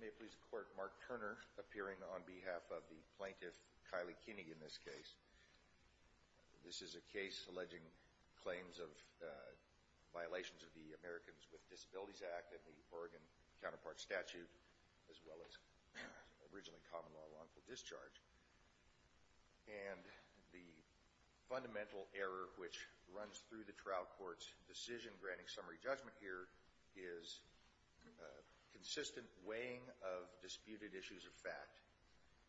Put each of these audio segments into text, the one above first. May it please the Court, Mark Turner, appearing on behalf of the plaintiff, Kylie Kinney, in this case. This is a case alleging claims of violations of the Americans with Disabilities Act and the Oregon counterpart statute, as well as originally common law lawful discharge. And the fundamental error which runs through the trial court's decision granting summary judgment here is consistent weighing of disputed issues of fact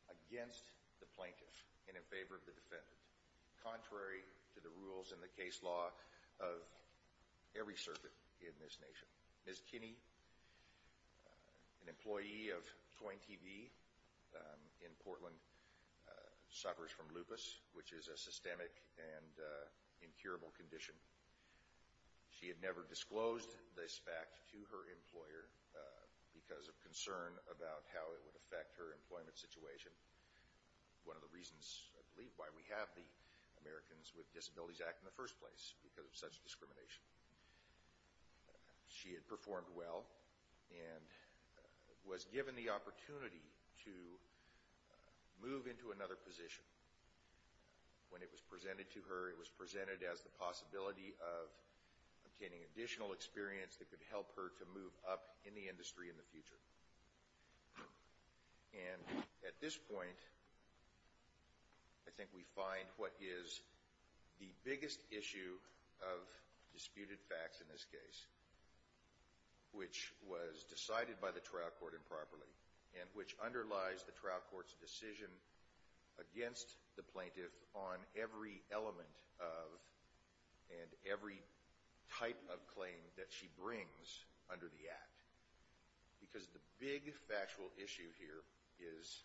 against the plaintiff and in favor of the defendant, contrary to the rules in the case law of every circuit in this nation. Ms. Kinney, an employee of Twain TV in Portland, suffers from lupus, which is a systemic and She proposed this fact to her employer because of concern about how it would affect her employment situation, one of the reasons, I believe, why we have the Americans with Disabilities Act in the first place, because of such discrimination. She had performed well and was given the opportunity to move into another position. When it was presented to her, it was presented as the possibility of obtaining additional experience that could help her to move up in the industry in the future. And at this point, I think we find what is the biggest issue of disputed facts in this case, which was decided by the trial court improperly and which underlies the trial court's decision against the plaintiff on every element of and every type of claim that she brings under the act. Because the big factual issue here is,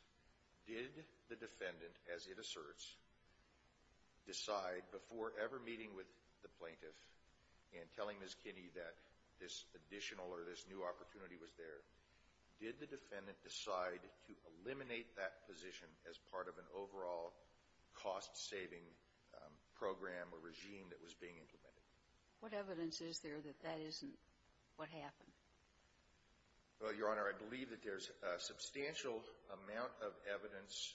did the defendant, as it asserts, decide before ever meeting with the plaintiff and telling Ms. Kinney that this additional or this new opportunity was there, did the defendant decide to eliminate that cost-saving program or regime that was being implemented? What evidence is there that that isn't what happened? Well, Your Honor, I believe that there's a substantial amount of evidence.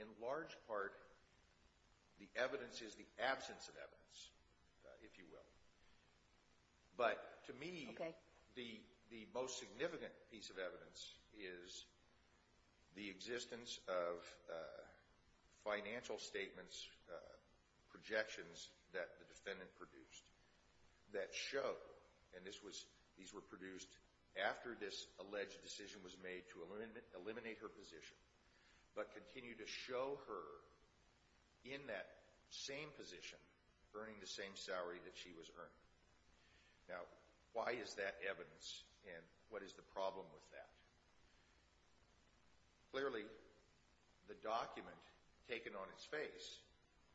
In large part, the evidence is the absence of evidence, if you will. But to me, the most significant piece of evidence is the existence of financial statements, projections, that the defendant produced that show, and these were produced after this alleged decision was made to eliminate her position, but continue to show her in that same position earning the same salary that she was earning. Now, why is that evidence, and what is the problem with that? Clearly, the document taken on its face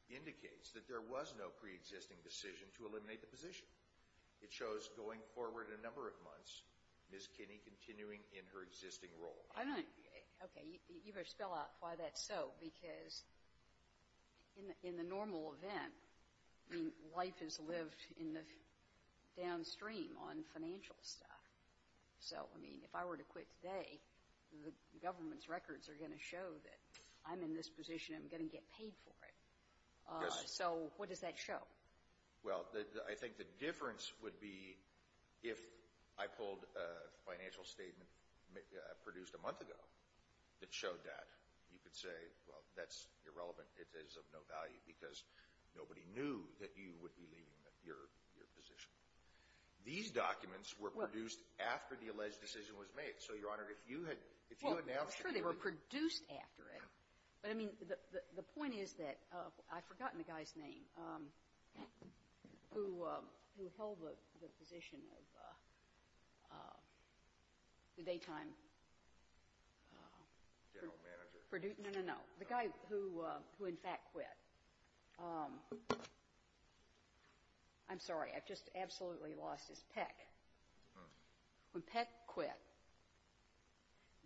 indicates that there was no preexisting decision to eliminate the position. It shows going forward a number of months, Ms. Kinney continuing in her existing role. Okay, you better spell out why that's so, because in the normal event, I mean, life is lived downstream on the government's records are going to show that I'm in this position, I'm going to get paid for it. Yes. So what does that show? Well, I think the difference would be if I pulled a financial statement produced a month ago that showed that, you could say, well, that's irrelevant, it is of no value because nobody knew that you would be leaving your position. These documents were produced after the alleged decision was made. So, Your Honor, if you had, if you announced it. Well, I'm sure they were produced after it. But, I mean, the point is that I've forgotten the guy's name who held the position of the daytime. General manager. No, no, no. The guy who in fact quit. I'm sorry. I've just absolutely lost his peck. When Peck quit,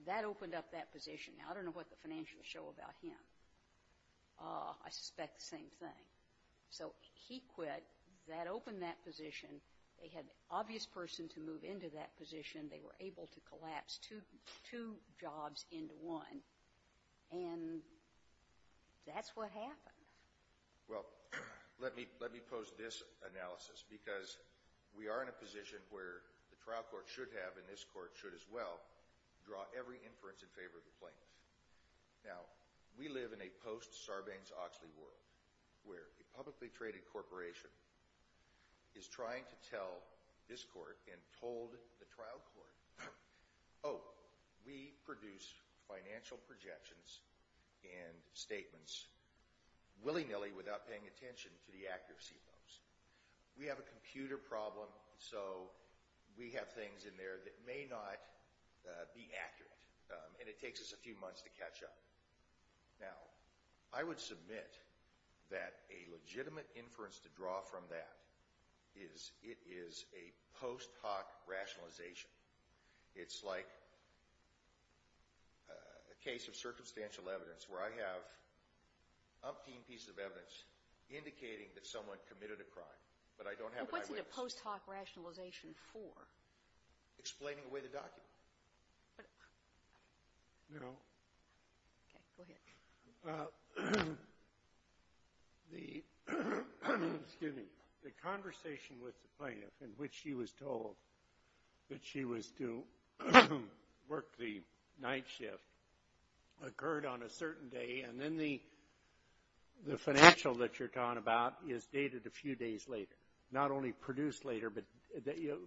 that opened up that position. Now, I don't know what the financials show about him. I suspect the same thing. So he quit, that opened that position. They had the obvious person to move into that position. They were able to collapse two jobs into one. And that's what happened. Well, let me pose this analysis because we are in a position where the trial court should have, and this court should as well, draw every inference in favor of the plaintiff. Now, we live in a post Sarbanes-Oxley world where a publicly traded corporation is trying to tell this court and told the trial court, oh, we produce financial projections and statements willy-nilly without paying attention to the accuracy of those. We have a computer problem, so we have things in there that may not be accurate. And it takes us a few months to catch up. Now, I would submit that a legitimate inference to draw from that is it is a post hoc rationalization. It's like a case of circumstantial evidence where I have umpteen pieces of evidence indicating that someone committed a crime, but I don't have an eyewitness. Well, what's in a post hoc rationalization for? Explaining away the document. No. Okay. Go ahead. The conversation with the plaintiff in which she was told that she was to work the night shift occurred on a certain day, and then the financial that you're talking about is dated a few days later. Not only produced later, but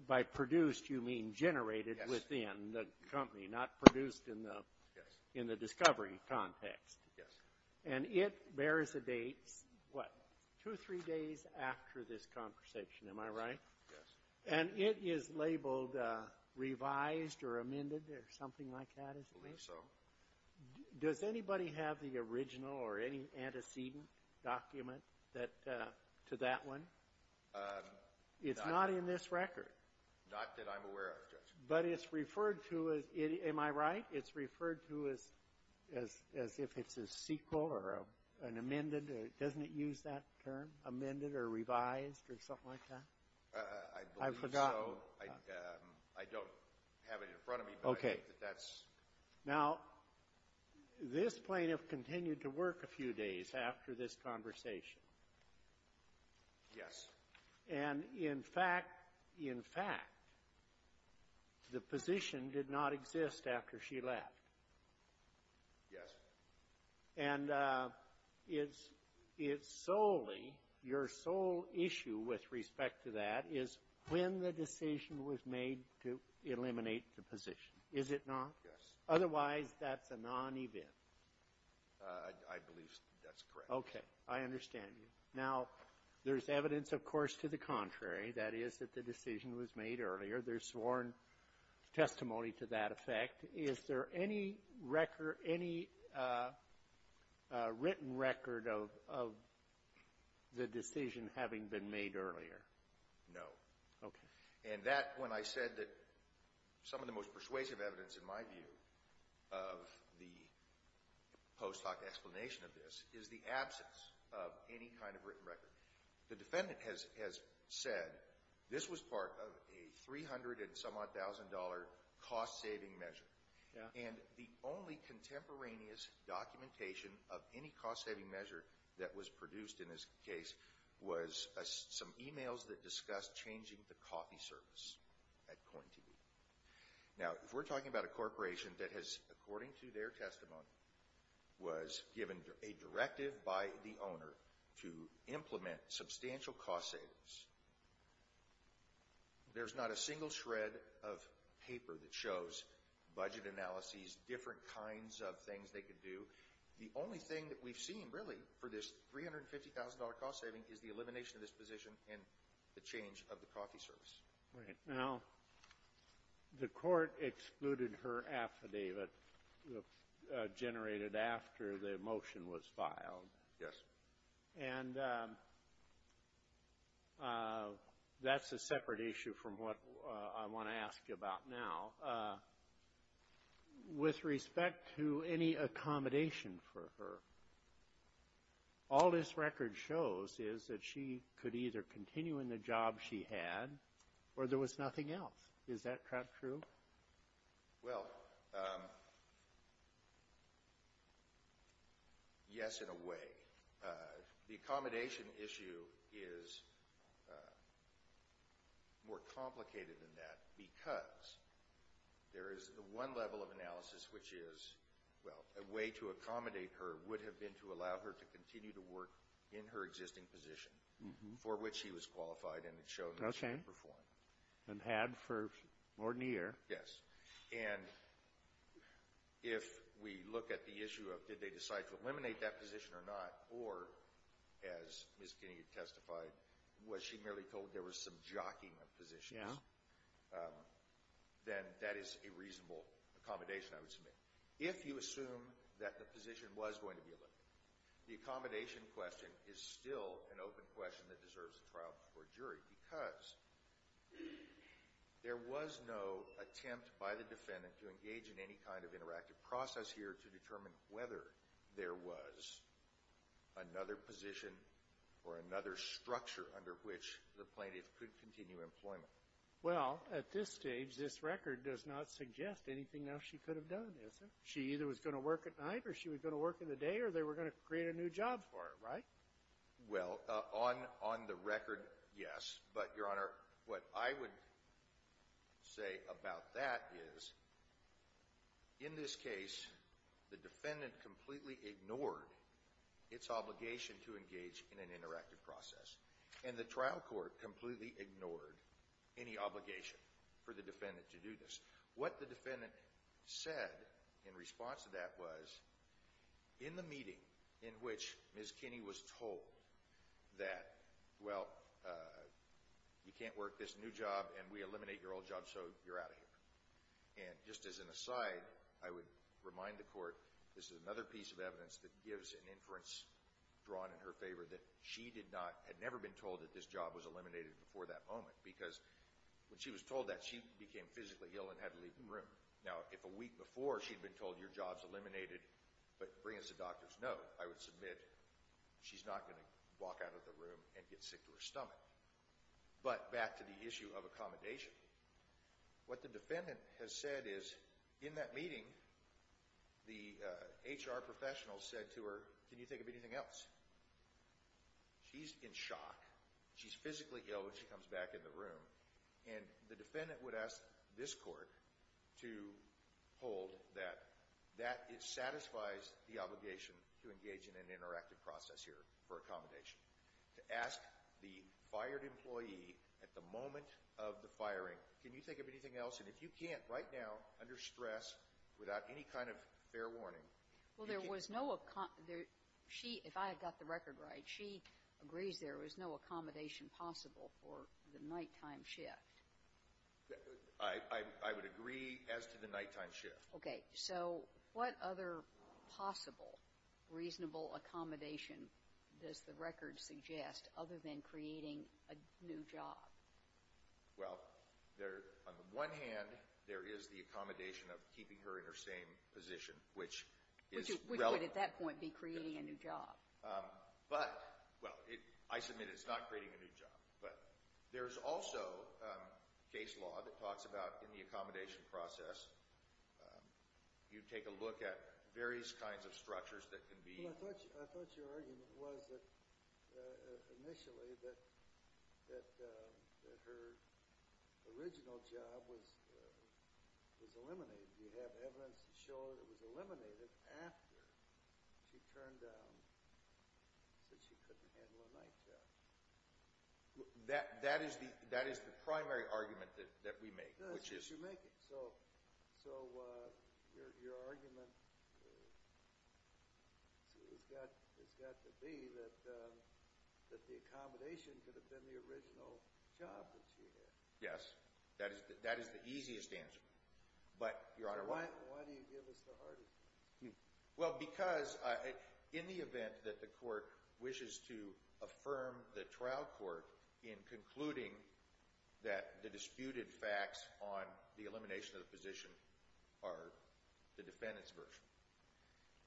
by produced you mean generated within the company, not produced in the discovery context. Yes. And it bears a date, what, two or three days after this conversation. Am I right? Yes. And it is labeled revised or amended or something like that, is it? I believe so. Does anybody have the original or any antecedent document to that one? It's not in this record. Not that I'm aware of, Judge. But it's referred to as, am I right, it's referred to as if it's a sequel or an amended, doesn't it use that term, amended or revised or something like that? I believe so. I've forgotten. I don't have it in front of me, but I think that that's. Now, this plaintiff continued to work a few days after this conversation. Yes. And in fact, in fact, the position did not exist after she left. Yes. And it's solely, your sole issue with respect to that is when the decision was made to eliminate the position, is it not? Yes. Otherwise, that's a non-event. I believe that's correct. Okay. I understand you. Now, there's evidence, of course, to the contrary. That is that the decision was made earlier. There's sworn testimony to that effect. Is there any record, any written record of the decision having been made earlier? No. Okay. And that, when I said that some of the most persuasive evidence, in my view, of the post-hoc explanation of this is the absence of any kind of written record. The defendant has said this was part of a $300-and-some-odd-thousand-dollar cost-saving measure. Yes. And the only contemporaneous documentation of any cost-saving measure that was produced in this case was some emails that discussed changing the coffee service at Coin TV. Now, if we're talking about a corporation that has, according to their testimony, was given a directive by the owner to implement substantial cost savings, there's not a single shred of paper that shows budget analyses, different kinds of things they could do. The only thing that we've seen, really, for this $350,000 cost saving is the elimination of this position and the change of the coffee service. Right. Now, the court excluded her affidavit generated after the motion was filed. Yes. And that's a separate issue from what I want to ask you about now. Now, with respect to any accommodation for her, all this record shows is that she could either continue in the job she had or there was nothing else. Is that true? Well, yes, in a way. The accommodation issue is more complicated than that because there is one level of analysis which is, well, a way to accommodate her would have been to allow her to continue to work in her existing position for which she was qualified and it showed she could perform. Okay. And had for more than a year. Yes. And if we look at the issue of did they decide to eliminate that position or not or, as Ms. Kinney testified, was she merely told there was some jockeying of positions? Yes. Then that is a reasonable accommodation, I would submit. If you assume that the position was going to be eliminated, the accommodation question is still an open question that deserves a trial before a jury because there was no attempt by the defendant to engage in any kind of interactive process here to determine whether there was another position or another structure under which the plaintiff could continue employment. Well, at this stage, this record does not suggest anything else she could have done, does it? She either was going to work at night or she was going to work in the day or they were going to create a new job for her, right? Well, on the record, yes. But, Your Honor, what I would say about that is in this case, the defendant completely ignored its obligation to engage in an interactive process and the trial court completely ignored any obligation for the defendant to do this. What the defendant said in response to that was in the meeting in which Ms. Kinney was told that, well, you can't work this new job and we eliminate your old job so you're out of here. And just as an aside, I would remind the court, this is another piece of evidence that gives an inference drawn in her favor that she had never been told that this job was eliminated before that moment because when she was told that, she became physically ill and had to leave the room. Now, if a week before she'd been told your job's eliminated but bring us a doctor's note, I would submit she's not going to walk out of the room and get sick to her stomach. But back to the issue of accommodation, what the defendant has said is in that meeting, the HR professional said to her, can you think of anything else? She's in shock. She's physically ill when she comes back in the room. And the defendant would ask this court to hold that that satisfies the obligation to engage in an interactive process here for accommodation. To ask the fired employee at the moment of the firing, can you think of anything else? And if you can't right now, under stress, without any kind of fair warning... Well, there was no... She, if I had got the record right, she agrees there was no accommodation possible for the nighttime shift. I would agree as to the nighttime shift. Okay, so what other possible reasonable accommodation does the record suggest other than creating a new job? Well, there... On the one hand, there is the accommodation of keeping her in her same position, which is... Which would, at that point, be creating a new job. Um, but... Well, I submit it's not creating a new job. But there's also case law that talks about, in the accommodation process, you take a look at various kinds of structures that can be... I thought your argument was that, initially, that her original job was eliminated. Do you have evidence to show that it was eliminated after she turned down, said she couldn't handle a night job? That is the primary argument that we make, which is... Yes, yes, you make it. So your argument has got to be that the accommodation could have been the original job that she had. Yes, that is the easiest answer. But, Your Honor, why... Why do you give us the hardest one? Well, because in the event that the court wishes to affirm the trial court in concluding that the disputed facts on the elimination of the position are the defendant's version,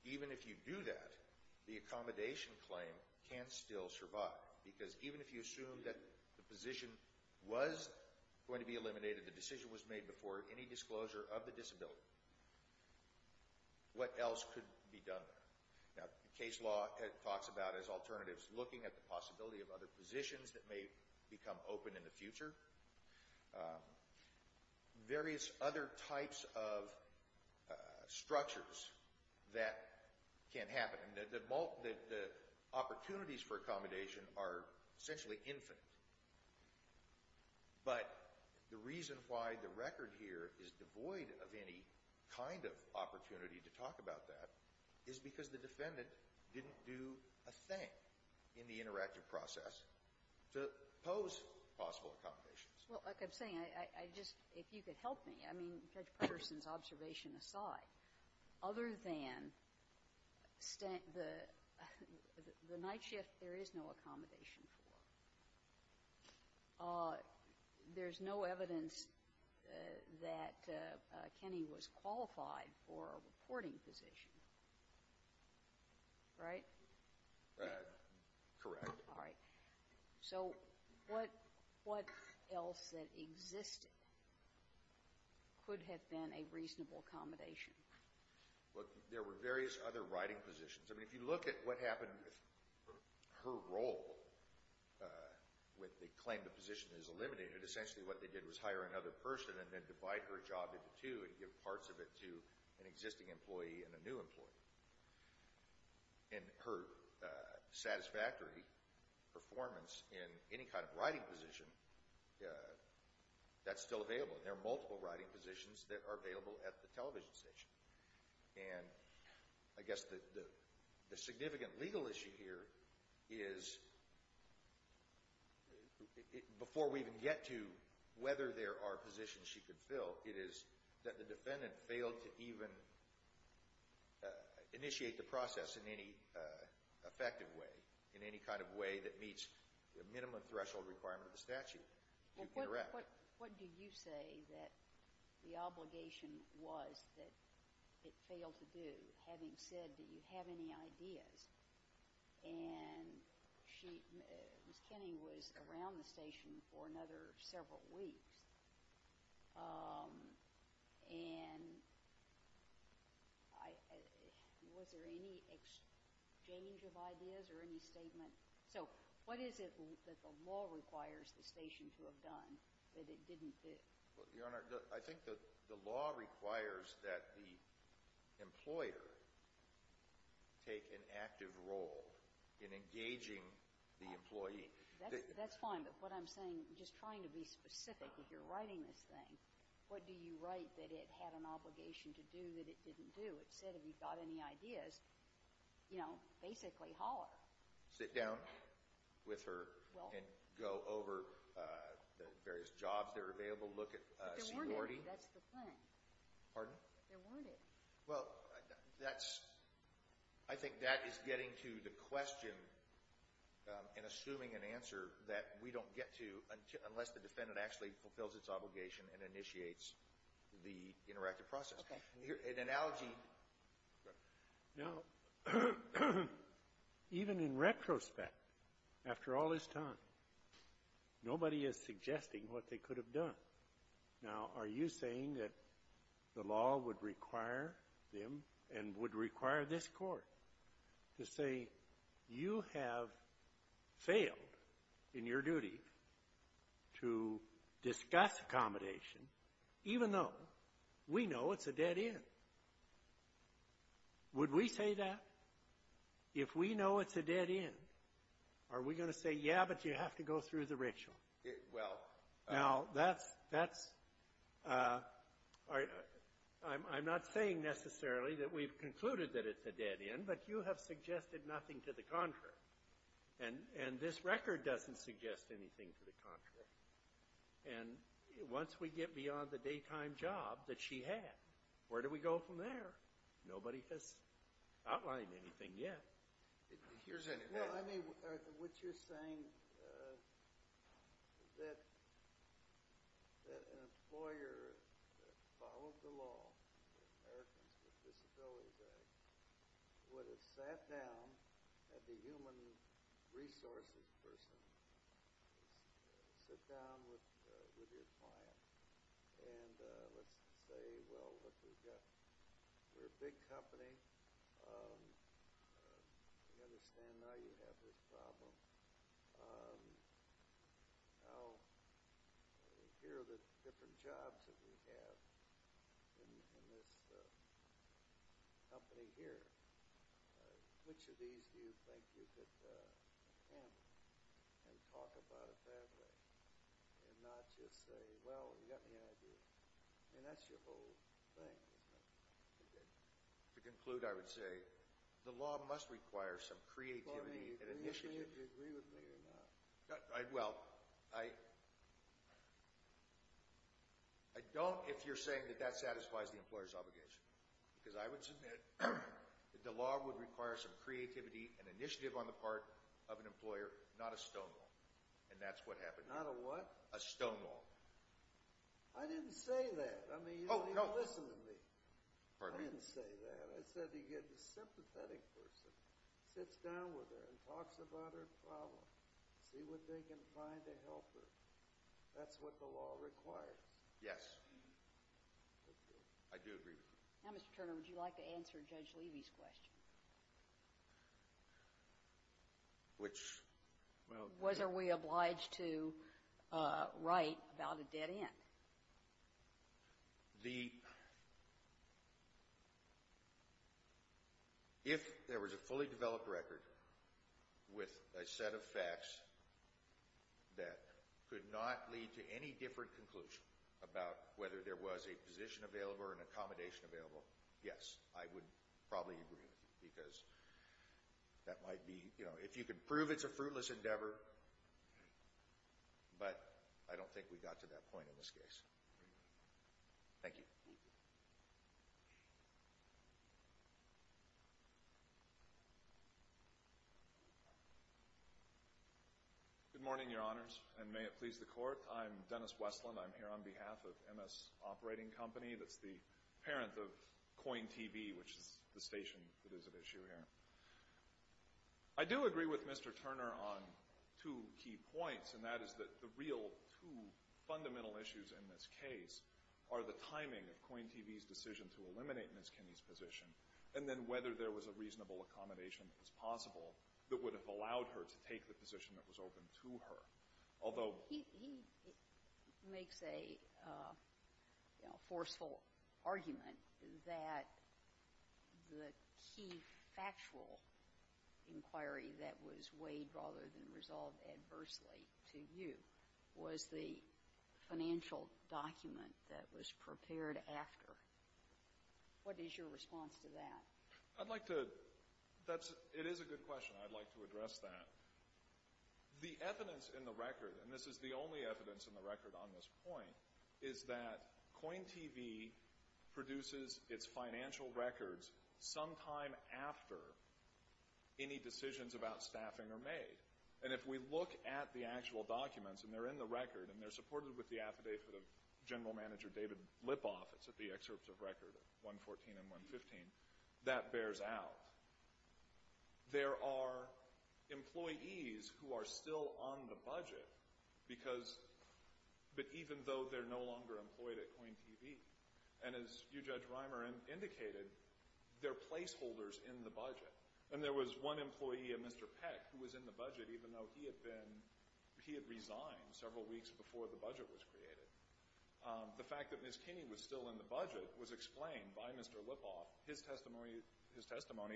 even if you do that, the accommodation claim can still survive. Because even if you assume that the position was going to be eliminated, the decision was made before any disclosure of the disability, what else could be done there? Now, case law talks about, as alternatives, looking at the possibility of other positions that may become open in the future, various other types of structures that can happen. The opportunities for accommodation are essentially infinite. But the reason why the record here is devoid of any kind of opportunity to talk about that is because the defendant didn't do a thing in the interactive process to pose possible accommodations. Well, like I'm saying, I just... If you could help me, I mean, Judge Patterson's observation aside, other than the night shift, there is no accommodation for. Uh, there's no evidence that Kenny was qualified for a reporting position. Right? Uh, correct. All right. So what else that existed could have been a reasonable accommodation? Well, there were various other writing positions. I mean, if you look at what happened with her role with the claim the position is eliminated, essentially what they did was hire another person and then divide her job into two and give parts of it to an existing employee and a new employee. And her satisfactory performance in any kind of writing position, that's still available. There are multiple writing positions that are available at the television station. And I guess the significant legal issue here is... Before we even get to whether there are positions she could fill, it is that the defendant failed to even... initiate the process in any effective way, in any kind of way that meets the minimum threshold requirement of the statute to interrupt. What do you say that the obligation was that it failed to do, having said that you have any ideas? And she... Miss Kenny was around the station for another several weeks. Um, and... Was there any exchange of ideas or any statement? So what is it that the law requires the station to have done that it didn't do? Your Honor, I think the law requires that the employer take an active role in engaging the employee. That's fine, but what I'm saying, just trying to be specific if you're writing this thing, what do you write that it had an obligation to do that it didn't do? It said if you've got any ideas, you know, basically holler. Sit down with her and go over the various jobs that are available, look at security. But there weren't any, that's the point. Pardon? There weren't any. Well, that's... I think that is getting to the question and assuming an answer that we don't get to unless the defendant actually fulfills its obligation and initiates the interactive process. Okay. An analogy... Now, even in retrospect, after all this time, nobody is suggesting what they could have done. Now, are you saying that the law would require them and would require this Court to say you have failed in your duty to discuss accommodation even though we know it's a dead end? Would we say that? If we know it's a dead end, are we going to say yeah, but you have to go through the ritual? Well... Now, that's... I'm not saying necessarily that we've concluded that it's a dead end, but you have suggested nothing to the contrary. And this record doesn't suggest anything to the contrary. And once we get beyond the daytime job that she had, where do we go from there? Nobody has outlined anything yet. Here's an example. What you're saying is that an employer that followed the law in the Americans with Disabilities Act would have sat down had the human resources person sit down with your client and let's say well, look, we're a big company. We understand now you have this problem. Now, here are the different jobs that we have in this company here. Which of these do you think you could handle and talk about it that way and not just say, well, you got any ideas? And that's your whole thing, isn't it? To conclude, I would say the law must require some creativity and initiative. Do you agree with me or not? Well, I... I don't if you're saying that that satisfies the employer's obligation. Because I would submit that the law would require some effort of an employer, not a stonewall. And that's what happened here. Not a what? A stonewall. I didn't say that. I mean, you don't listen to me. I didn't say that. I said you get a sympathetic person sits down with her and talks about her problem, see what they can find to help her. That's what the law requires. Yes. I do agree with you. Now, Mr. Turner, would you like to answer Judge Levy's question? Which... Was are we obliged to write about a dead end? The... If there was a fully developed record with a set of facts that could not lead to any different conclusion about whether there was a position available or an accommodation available, yes, I would probably agree with you because that might be... If you could prove it's a fruitless endeavor, but I don't think we got to that point in this case. Thank you. Good morning, Your Honors, and may it please the Court. I'm Dennis Westland. I'm here on behalf of MS Operating Company. That's the parent of Coin TV, which is the station that is at issue here. I do agree with Mr. Turner on two key points, and that is that the real two fundamental issues in this case are the timing of Coin TV's decision to eliminate Ms. Kinney's position, and then whether there was a reasonable accommodation that was possible that would have allowed her to take the position that was open to her. Although... He makes a forceful argument that the key factual inquiry that was weighed rather than resolved adversely to you was the financial document that was prepared after. What is your response to that? I'd like to... It is a good question. I'd like to address that. The evidence in the record, and this is the only evidence in the record on this point, is that Coin TV produces its financial records sometime after any decisions about staffing are made. And if we look at the actual documents, and they're in the record and they're supported with the affidavit of General Manager David Lipoff, it's at the excerpts of record 114 and 115, that bears out. There are employees who are still on the budget because... But even though they're no longer employed at Coin TV. And as you, Judge Reimer, indicated, they're placeholders in the budget. And there was one employee, a Mr. Peck, who was in the budget even though he had been... He had resigned several weeks before the budget was created. The fact that Ms. Kinney was still in the budget was explained by Mr. Lipoff. His testimony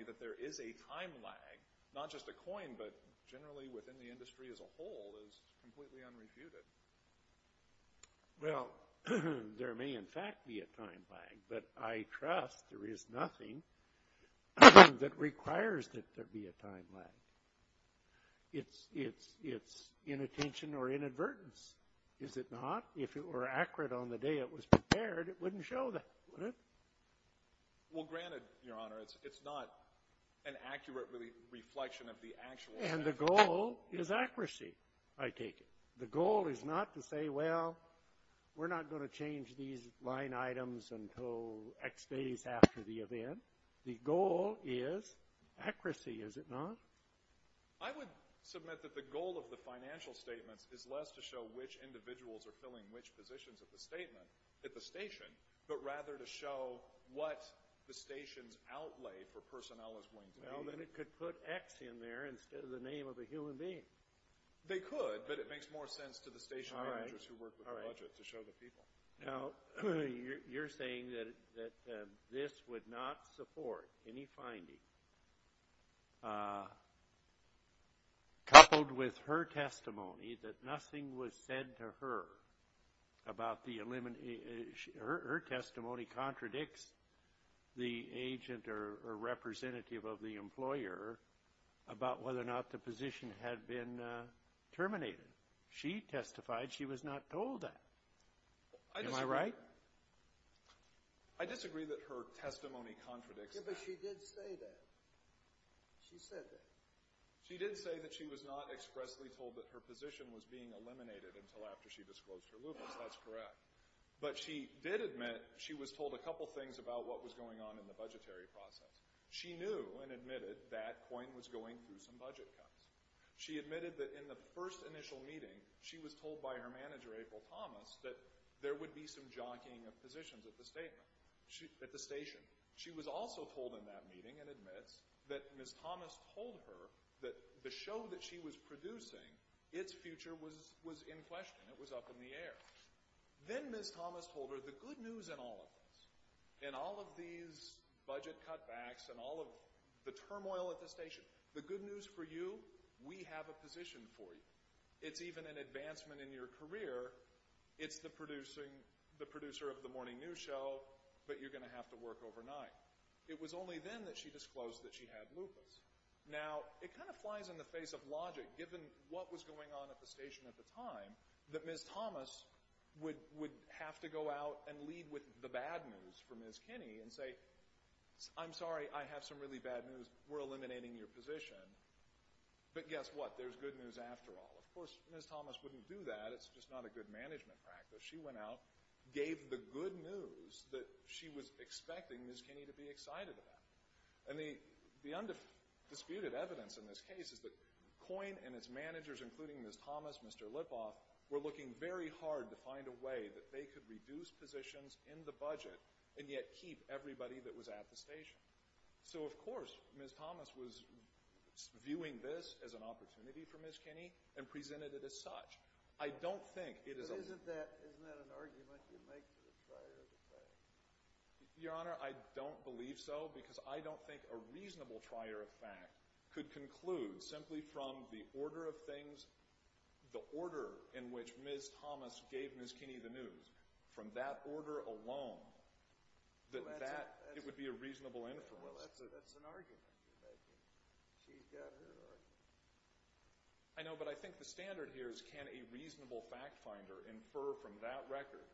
that there is a time lag, not just at Coin, but generally within the industry as a whole, is Well, there may in fact be a time lag, but I trust there is nothing that requires that there be a time lag. It's inattention or inadvertence. Is it not? If it were accurate on the day it was prepared, it wouldn't show that, would it? Well, granted, Your Honor, it's not an accurate reflection of the actual... And the goal is accuracy, I take it. The goal is not to say, well, we're not going to change these line items until X days after the event. The goal is accuracy, is it not? I would submit that the goal of the financial statements is less to show which individuals are filling which positions at the station, but rather to show what the station's outlay for personnel is going to be. Well, then it could put X in there instead of the name of a human being. They could, but it makes more sense to the station managers who work with the budget to show the people. You're saying that this would not support any finding coupled with her testimony that nothing was said to her about the elimination... Her testimony contradicts the agent or representative of the employer about whether or not the position had been terminated. She testified she was not told that. Am I right? I disagree that her testimony contradicts that. Yeah, but she did say that. She said that. She did say that she was not expressly told that her position was being eliminated until after she disclosed her limits. That's correct. But she did admit she was told a couple things about what was going on in the budgetary process. She knew and admitted that COIN was going through some budget cuts. She admitted that in the first initial meeting, she was told by her manager, April Thomas, that there would be some jockeying of positions at the station. She was also told in that meeting and admits that Ms. Thomas told her that the show that she was producing, its future was in question. It was up in the air. Then Ms. Thomas told her the good news in all of this, in all of these budget cutbacks and all of the turmoil at the station, the good news for you, we have a position for you. It's even an advancement in your career. It's the producer of the morning news show, but you're going to have to work overnight. It was only then that she disclosed that she had lupus. Now, it kind of flies in the face of logic, given what was going on at the station at the time, that Ms. Thomas would have to go out and lead with the bad news for Ms. Kinney and say, I'm sorry, I have some really bad news. We're eliminating your position. But guess what? There's good news after all. Of course, Ms. Thomas wouldn't do that. It's just not a good management practice. She went out, gave the good news that she was expecting Ms. Kinney to be excited about. And the undisputed evidence in this case is that COIN and its managers, including Ms. Thomas, Mr. Lipoff, were looking very hard to find a way that they could reduce positions in the budget and yet keep everybody that was at the station. So, of course, Ms. Thomas was viewing this as an opportunity for Ms. Kinney and presented it as such. I don't think it is a... But isn't that an argument you make for the trier of fact? Your Honor, I don't believe so because I don't think a reasonable trier of fact could conclude simply from the order of things, the order in which Ms. Thomas gave Ms. Kinney the news from that order alone that that would be a reasonable inference. That's an argument you're making. She's got her argument. I know, but I think the standard here is can a reasonable fact finder infer from that record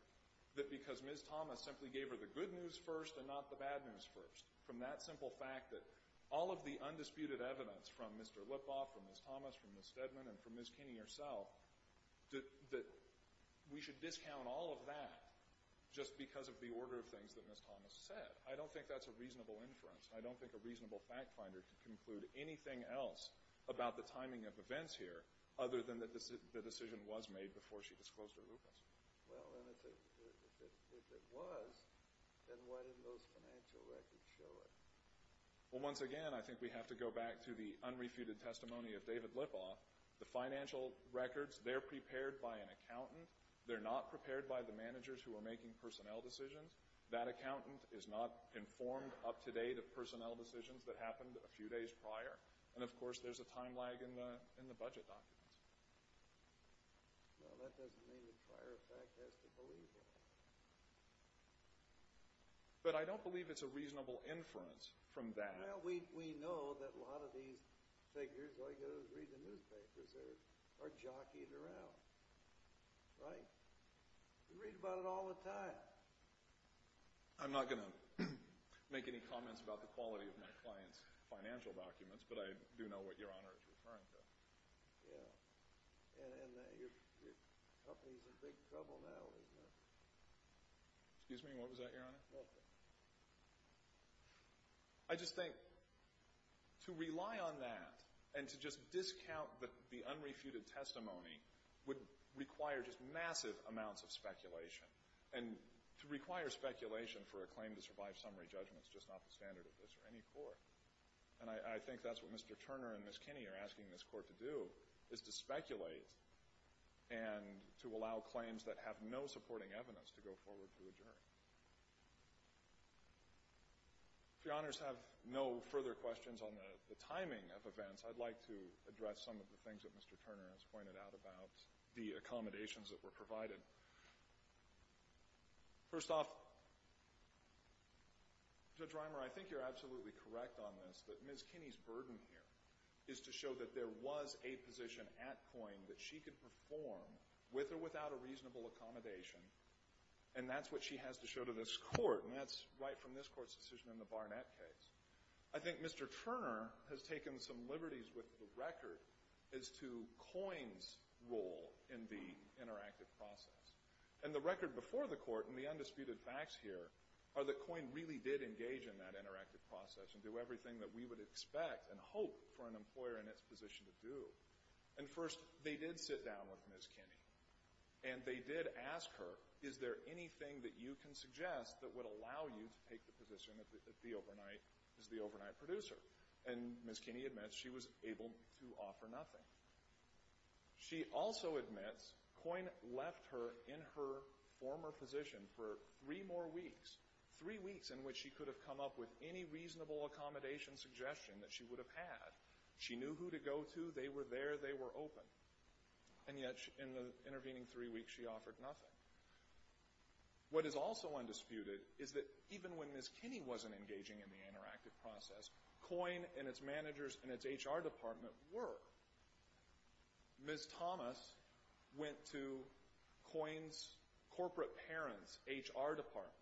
that because Ms. Thomas simply gave her the good news first and not the bad news first from that simple fact that all of the undisputed evidence from Mr. Lipoff, from Ms. Thomas, from Ms. Steadman, and from Ms. Kinney herself, that we should discount all of that just because of the order of things that Ms. Thomas said. I don't think that's a reasonable inference. I don't think a reasonable fact finder could conclude anything else about the timing of events here other than that the decision was made before she disclosed her lupus. Well, if it was, then why didn't those financial records show it? Well, once again, I think we have to go back to the unrefuted testimony of David Lipoff. The financial records, they're prepared by an accountant. They're not prepared by the managers who are making personnel decisions. That accountant is not informed up to date of personnel decisions that happened a few days prior. And, of course, there's a time lag in the budget documents. Well, that doesn't mean the prior fact has to believe it. But I don't believe it's a reasonable inference from that. Well, we know that a lot of these figures, all you got to do is read the newspapers, are jockeying around. Right? You read about it all the time. I'm not going to make any comments about the quality of my client's financial documents, but I do know what Your Honor is referring to. Yeah. And your company's in big trouble now, isn't it? Excuse me? What was that, Your Honor? Nothing. I just think to rely on that and to just discount the unrefuted testimony would require just massive amounts of speculation. And to require speculation for a claim to survive summary judgment is just not the standard of this in any court. And I think that's what Mr. Turner and Ms. Kinney are asking this court to do, is to speculate and to allow claims that have no supporting evidence to go forward to adjourn. If Your Honors have no further questions on the timing of events, I'd like to address some of the things that Mr. Turner has pointed out about the accommodations that were provided. First off, Judge Reimer, I think you're absolutely correct on this, that Ms. Kinney's burden here is to show that there was a position at Coyne that she could perform, with or without Ms. Kinney. And that's what she has to show to this court, and that's right from this court's decision in the Barnett case. I think Mr. Turner has taken some liberties with the record as to Coyne's role in the interactive process. And the record before the court, and the undisputed facts here, are that Coyne really did engage in that interactive process and do everything that we would expect and hope for an employer in its position to do. And first, they did sit down with Ms. Kinney, and they did ask her, is there anything that you can suggest that would allow you to take the position as the overnight producer? And Ms. Kinney admits she was able to offer nothing. She also admits Coyne left her in her former position for three more weeks. Three weeks in which she could have come up with any reasonable accommodation suggestion that she would have had. She knew who to go to, they were there, they were open. And yet, in the intervening three weeks, she offered nothing. What is also undisputed is that even when Ms. Kinney wasn't engaging in the interactive process, Coyne and its managers and its HR department were. Ms. Thomas went to Coyne's corporate parents, HR department,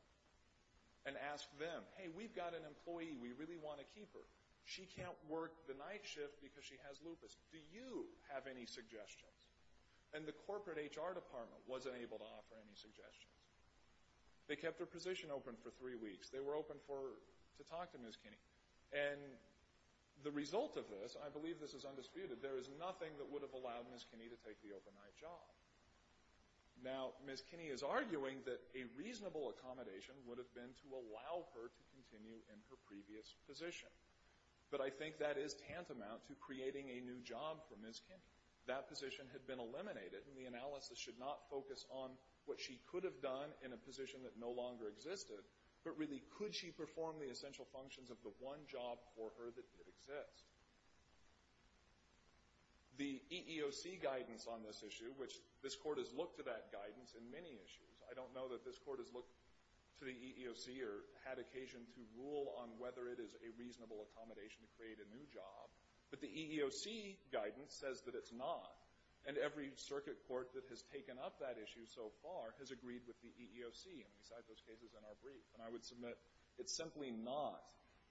and asked them, hey, we've got an employee, we really want to keep her. She can't work the night shift because she has lupus. Do you have any suggestions? And the corporate HR department wasn't able to offer any suggestions. They kept her position open for three weeks. They were open to talk to Ms. Kinney. And the result of this, I believe this is undisputed, there is nothing that would have allowed Ms. Kinney to take the overnight job. Now, Ms. Kinney is arguing that a reasonable accommodation would have been to allow her to continue in her previous position. But I think that is tantamount to creating a new job for Ms. Kinney. That position had been eliminated and the analysis should not focus on what she could have done in a position that no longer existed, but really could she perform the essential functions of the one job for her that did exist? The EEOC guidance on this issue, which this court has looked to that guidance in many issues, I don't know that this court has looked to the EEOC or had occasion to rule on whether it is a reasonable accommodation to create a new job, but the EEOC guidance says that it's not. And every circuit court that has taken up that issue so far has agreed with the EEOC and we cite those cases in our brief. And I would submit it's simply not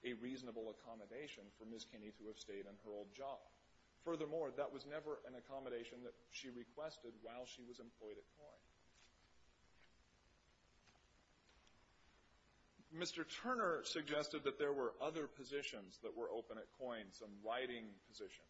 a reasonable accommodation for Ms. Kinney to have stayed in her old job. Furthermore, that was never an accommodation that she requested while she was employed at Coyne. Mr. Turner suggested that there were other positions that were open at Coyne, some writing positions.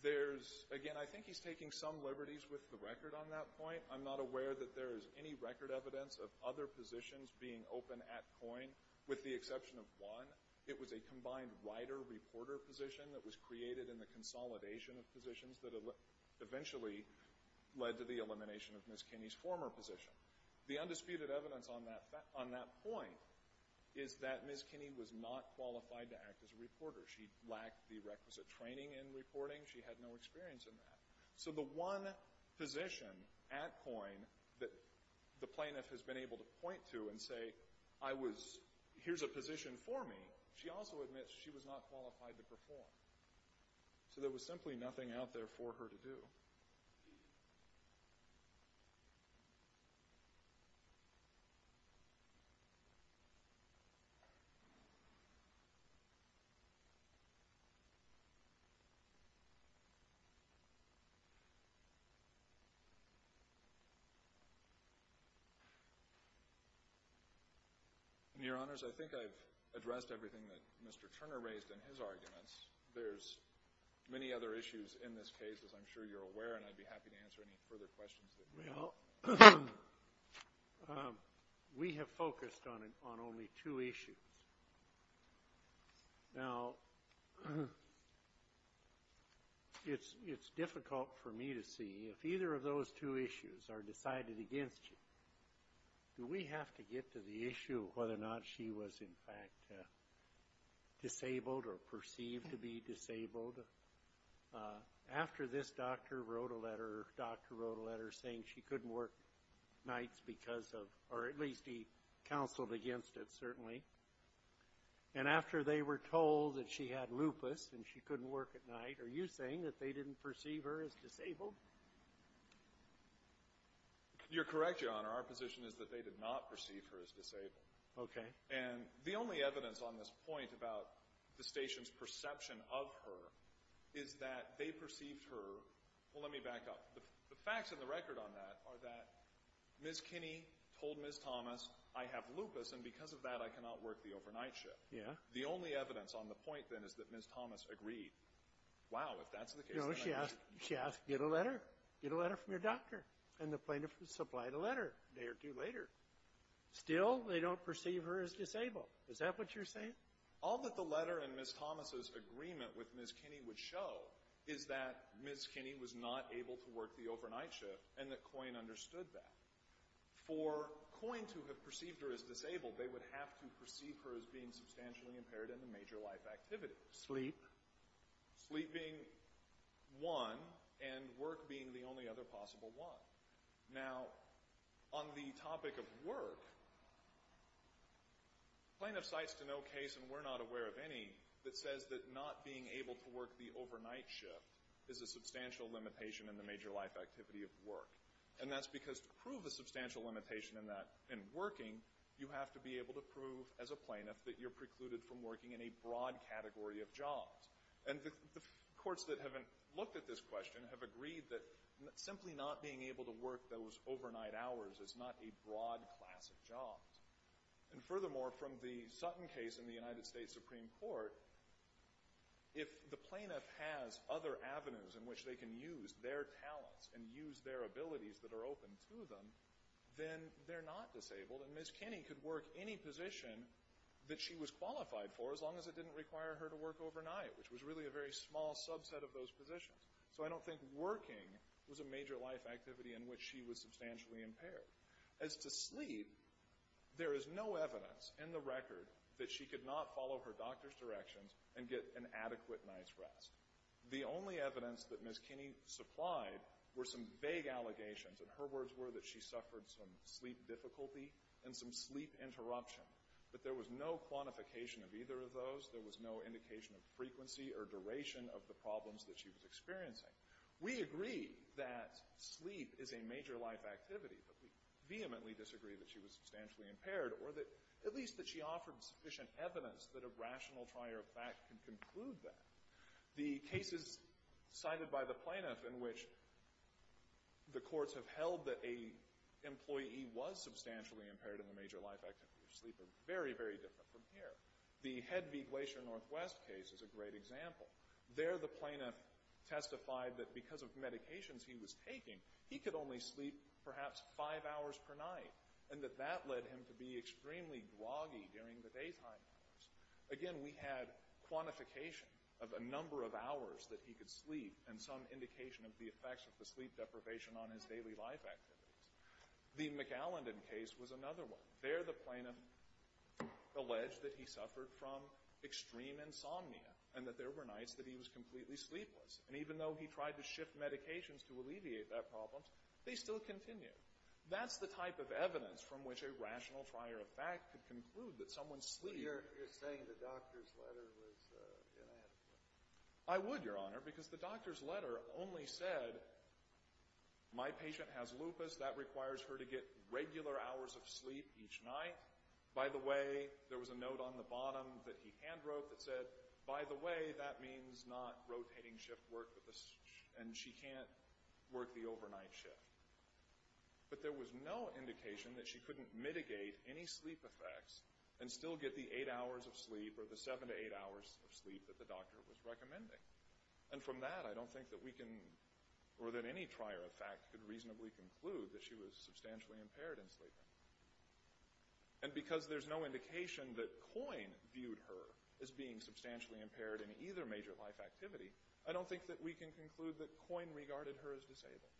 There's, again, I think he's taking some liberties with the record on that point. I'm not aware that there is any record evidence of other positions being open at Coyne, with the exception of one. It was a combined writer-reporter position that was created in the consolidation of positions that eventually led to the elimination of Ms. Kinney's former position. The undisputed evidence on that point is that Ms. Kinney was not qualified to act as a reporter. She lacked the requisite training in reporting. She had no experience in that. So the one position at Coyne that the plaintiff has been able to point to and say, I was, here's a position for me, she also admits she was not qualified to perform. So there was simply nothing out there for her to do. Thank you. Your Honors, I think I've addressed everything that Mr. Turner raised in his arguments. There's many other issues in this case, as I'm sure you're aware, and I'd be happy to answer any further questions. We have focused on only two issues. Now, it's difficult for me to see if either of those two issues are decided against you. Do we have to get to the issue of whether or not she was in fact disabled or perceived to be disabled? After this doctor wrote a letter, saying she couldn't work nights because of, or at least he counseled against it, certainly, and after they were told that she had lupus and she couldn't work at night, are you saying that they didn't perceive her as disabled? You're correct, Your Honor. Our position is that they did not perceive her as disabled. Okay. And the only evidence on this point about the station's perception of her is that they perceived her Well, let me back up. The facts in the record on that are that Ms. Kinney told Ms. Thomas I have lupus and because of that I cannot work the overnight shift. The only evidence on the point then is that Ms. Thomas agreed. Wow, if that's the case, then I agree. No, she asked, get a letter. Get a letter from your doctor. And the plaintiff supplied a letter a day or two later. Still, they don't perceive her as disabled. Is that what you're saying? All that the letter and Ms. Thomas' agreement with Ms. Kinney would show is that Ms. Kinney was not able to work the overnight shift and that Coyne understood that. For Coyne to have perceived her as disabled, they would have to perceive her as being substantially impaired in a major life activity. Sleep? Sleep being one and work being the only other possible one. Now, on the topic of work, the plaintiff cites a no case and we're not aware of any that says that not being able to work the overnight shift is a substantial limitation in the major life activity of work. And that's because to prove a substantial limitation in that, in working, you have to be able to prove as a plaintiff that you're precluded from working in a broad category of jobs. And the courts that haven't looked at this question have agreed that simply not being able to work those overnight hours is not a broad class of jobs. And furthermore, from the Sutton case in the United States Supreme Court, if the plaintiff has other avenues in which they can use their talents and use their abilities that are open to them, then they're not disabled and Ms. Kinney could work any position that she was qualified for as long as it didn't require her to work overnight, which was really a very small subset of those positions. So I don't think working was a major life activity in which she was substantially impaired. As to sleep, there is no evidence in the record that she could not follow her doctor's directions and get an adequate night's rest. The only evidence that Ms. Kinney supplied were some vague allegations. And her words were that she suffered some sleep difficulty and some sleep interruption. But there was no quantification of either of those. There was no indication of frequency or duration of the problems that she was experiencing. We agree that sleep is a major life activity, but we vehemently disagree that she was substantially impaired, or at least that she offered sufficient evidence that a rational trial of fact can conclude that. The cases cited by the plaintiff in which the courts have held that an employee was substantially impaired in a major life activity of sleep are very, very different from here. The Head v. Glacier Northwest case is a great example. There the plaintiff testified that because of he could only sleep perhaps five hours per night, and that that led him to be extremely gloggy during the daytime hours. Again, we had quantification of a number of hours that he could sleep and some indication of the effects of the sleep deprivation on his daily life activities. The McAllendon case was another one. There the plaintiff alleged that he suffered and that there were nights that he was completely sleepless. And even though he tried to shift medications to alleviate that problem, they still continued. That's the type of evidence from which a rational trial of fact could conclude that someone sleeping... You're saying the doctor's letter was inadequate? I would, Your Honor, because the doctor's letter only said, my patient has lupus. That requires her to get regular hours of sleep each night. By the way, there was a note on the bottom that he hand wrote that said, by the way, that means not rotating shift work, and she can't work the overnight shift. But there was no indication that she couldn't mitigate any sleep effects and still get the eight hours of sleep or the seven to eight hours of sleep that the doctor was recommending. And from that, I don't think that we can, or that any trial of fact could reasonably conclude that she was substantially impaired in sleeping. And because there's no indication that Coyne viewed her as being substantially impaired in either major life activity, I don't think that we can conclude that Coyne regarded her as disabled.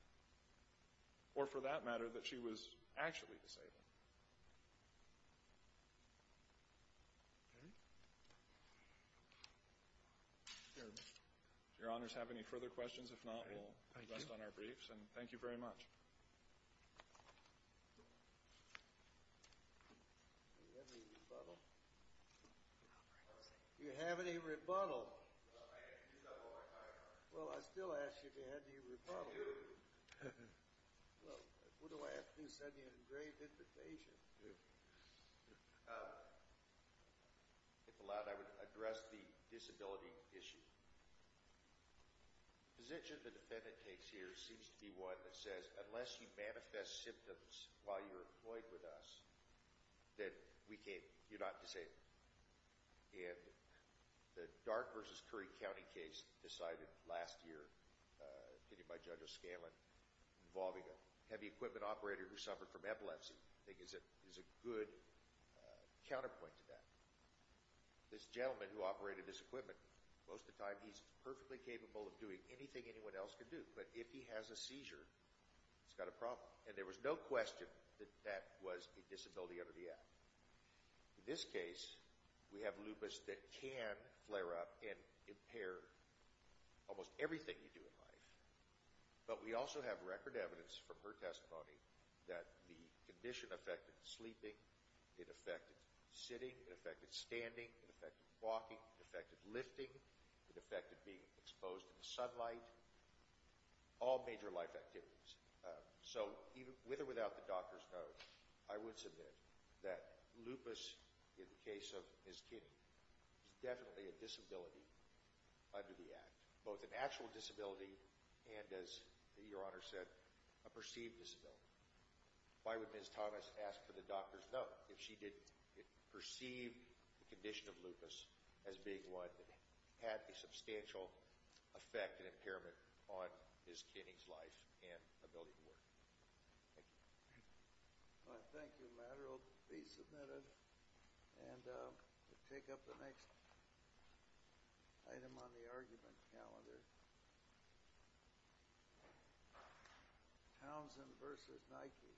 Or for that matter, that she was actually disabled. Do Your Honors have any further questions? If not, we'll rest on our briefs. And thank you very much. Do you have any rebuttal? Do you have any rebuttal? Well, I still ask you if you have any rebuttal. Well, what do I have to do to send you an engraved invitation? If allowed, I would address the disability issue. The position the defendant takes this year seems to be one that says unless you manifest symptoms while you're employed with us, that you're not disabled. And the Dark v. Curry County case decided last year by Judge O'Scanlan involving a heavy equipment operator who suffered from epilepsy is a good counterpoint to that. This gentleman who operated this equipment, most of the time he's perfectly capable of doing anything anyone else can do. But if he has a seizure, he's got a problem. And there was no question that that was a disability under the Act. In this case, we have lupus that can flare up and impair almost everything you do in life. But we also have record evidence from her testimony that the condition affected sleeping, it affected sitting, it affected standing, it affected walking, it affected lifting, it affected being exposed to the sunlight, all major life activities. So, with or without the doctor's note, I would submit that lupus, in the case of Ms. Kinney, is definitely a disability under the Act. Both an actual disability and, as Your Honor said, a perceived disability. Why would Ms. Thomas ask for the doctor's note if she didn't perceive the condition of lupus as being one that had a substantial effect and impairment on Ms. Kinney's life and ability to work? Thank you. Thank you, Matt. It will be submitted. And we'll take up the next item on the argument calendar. Townsend v. Nike. Townsend v. Nike. Thank you.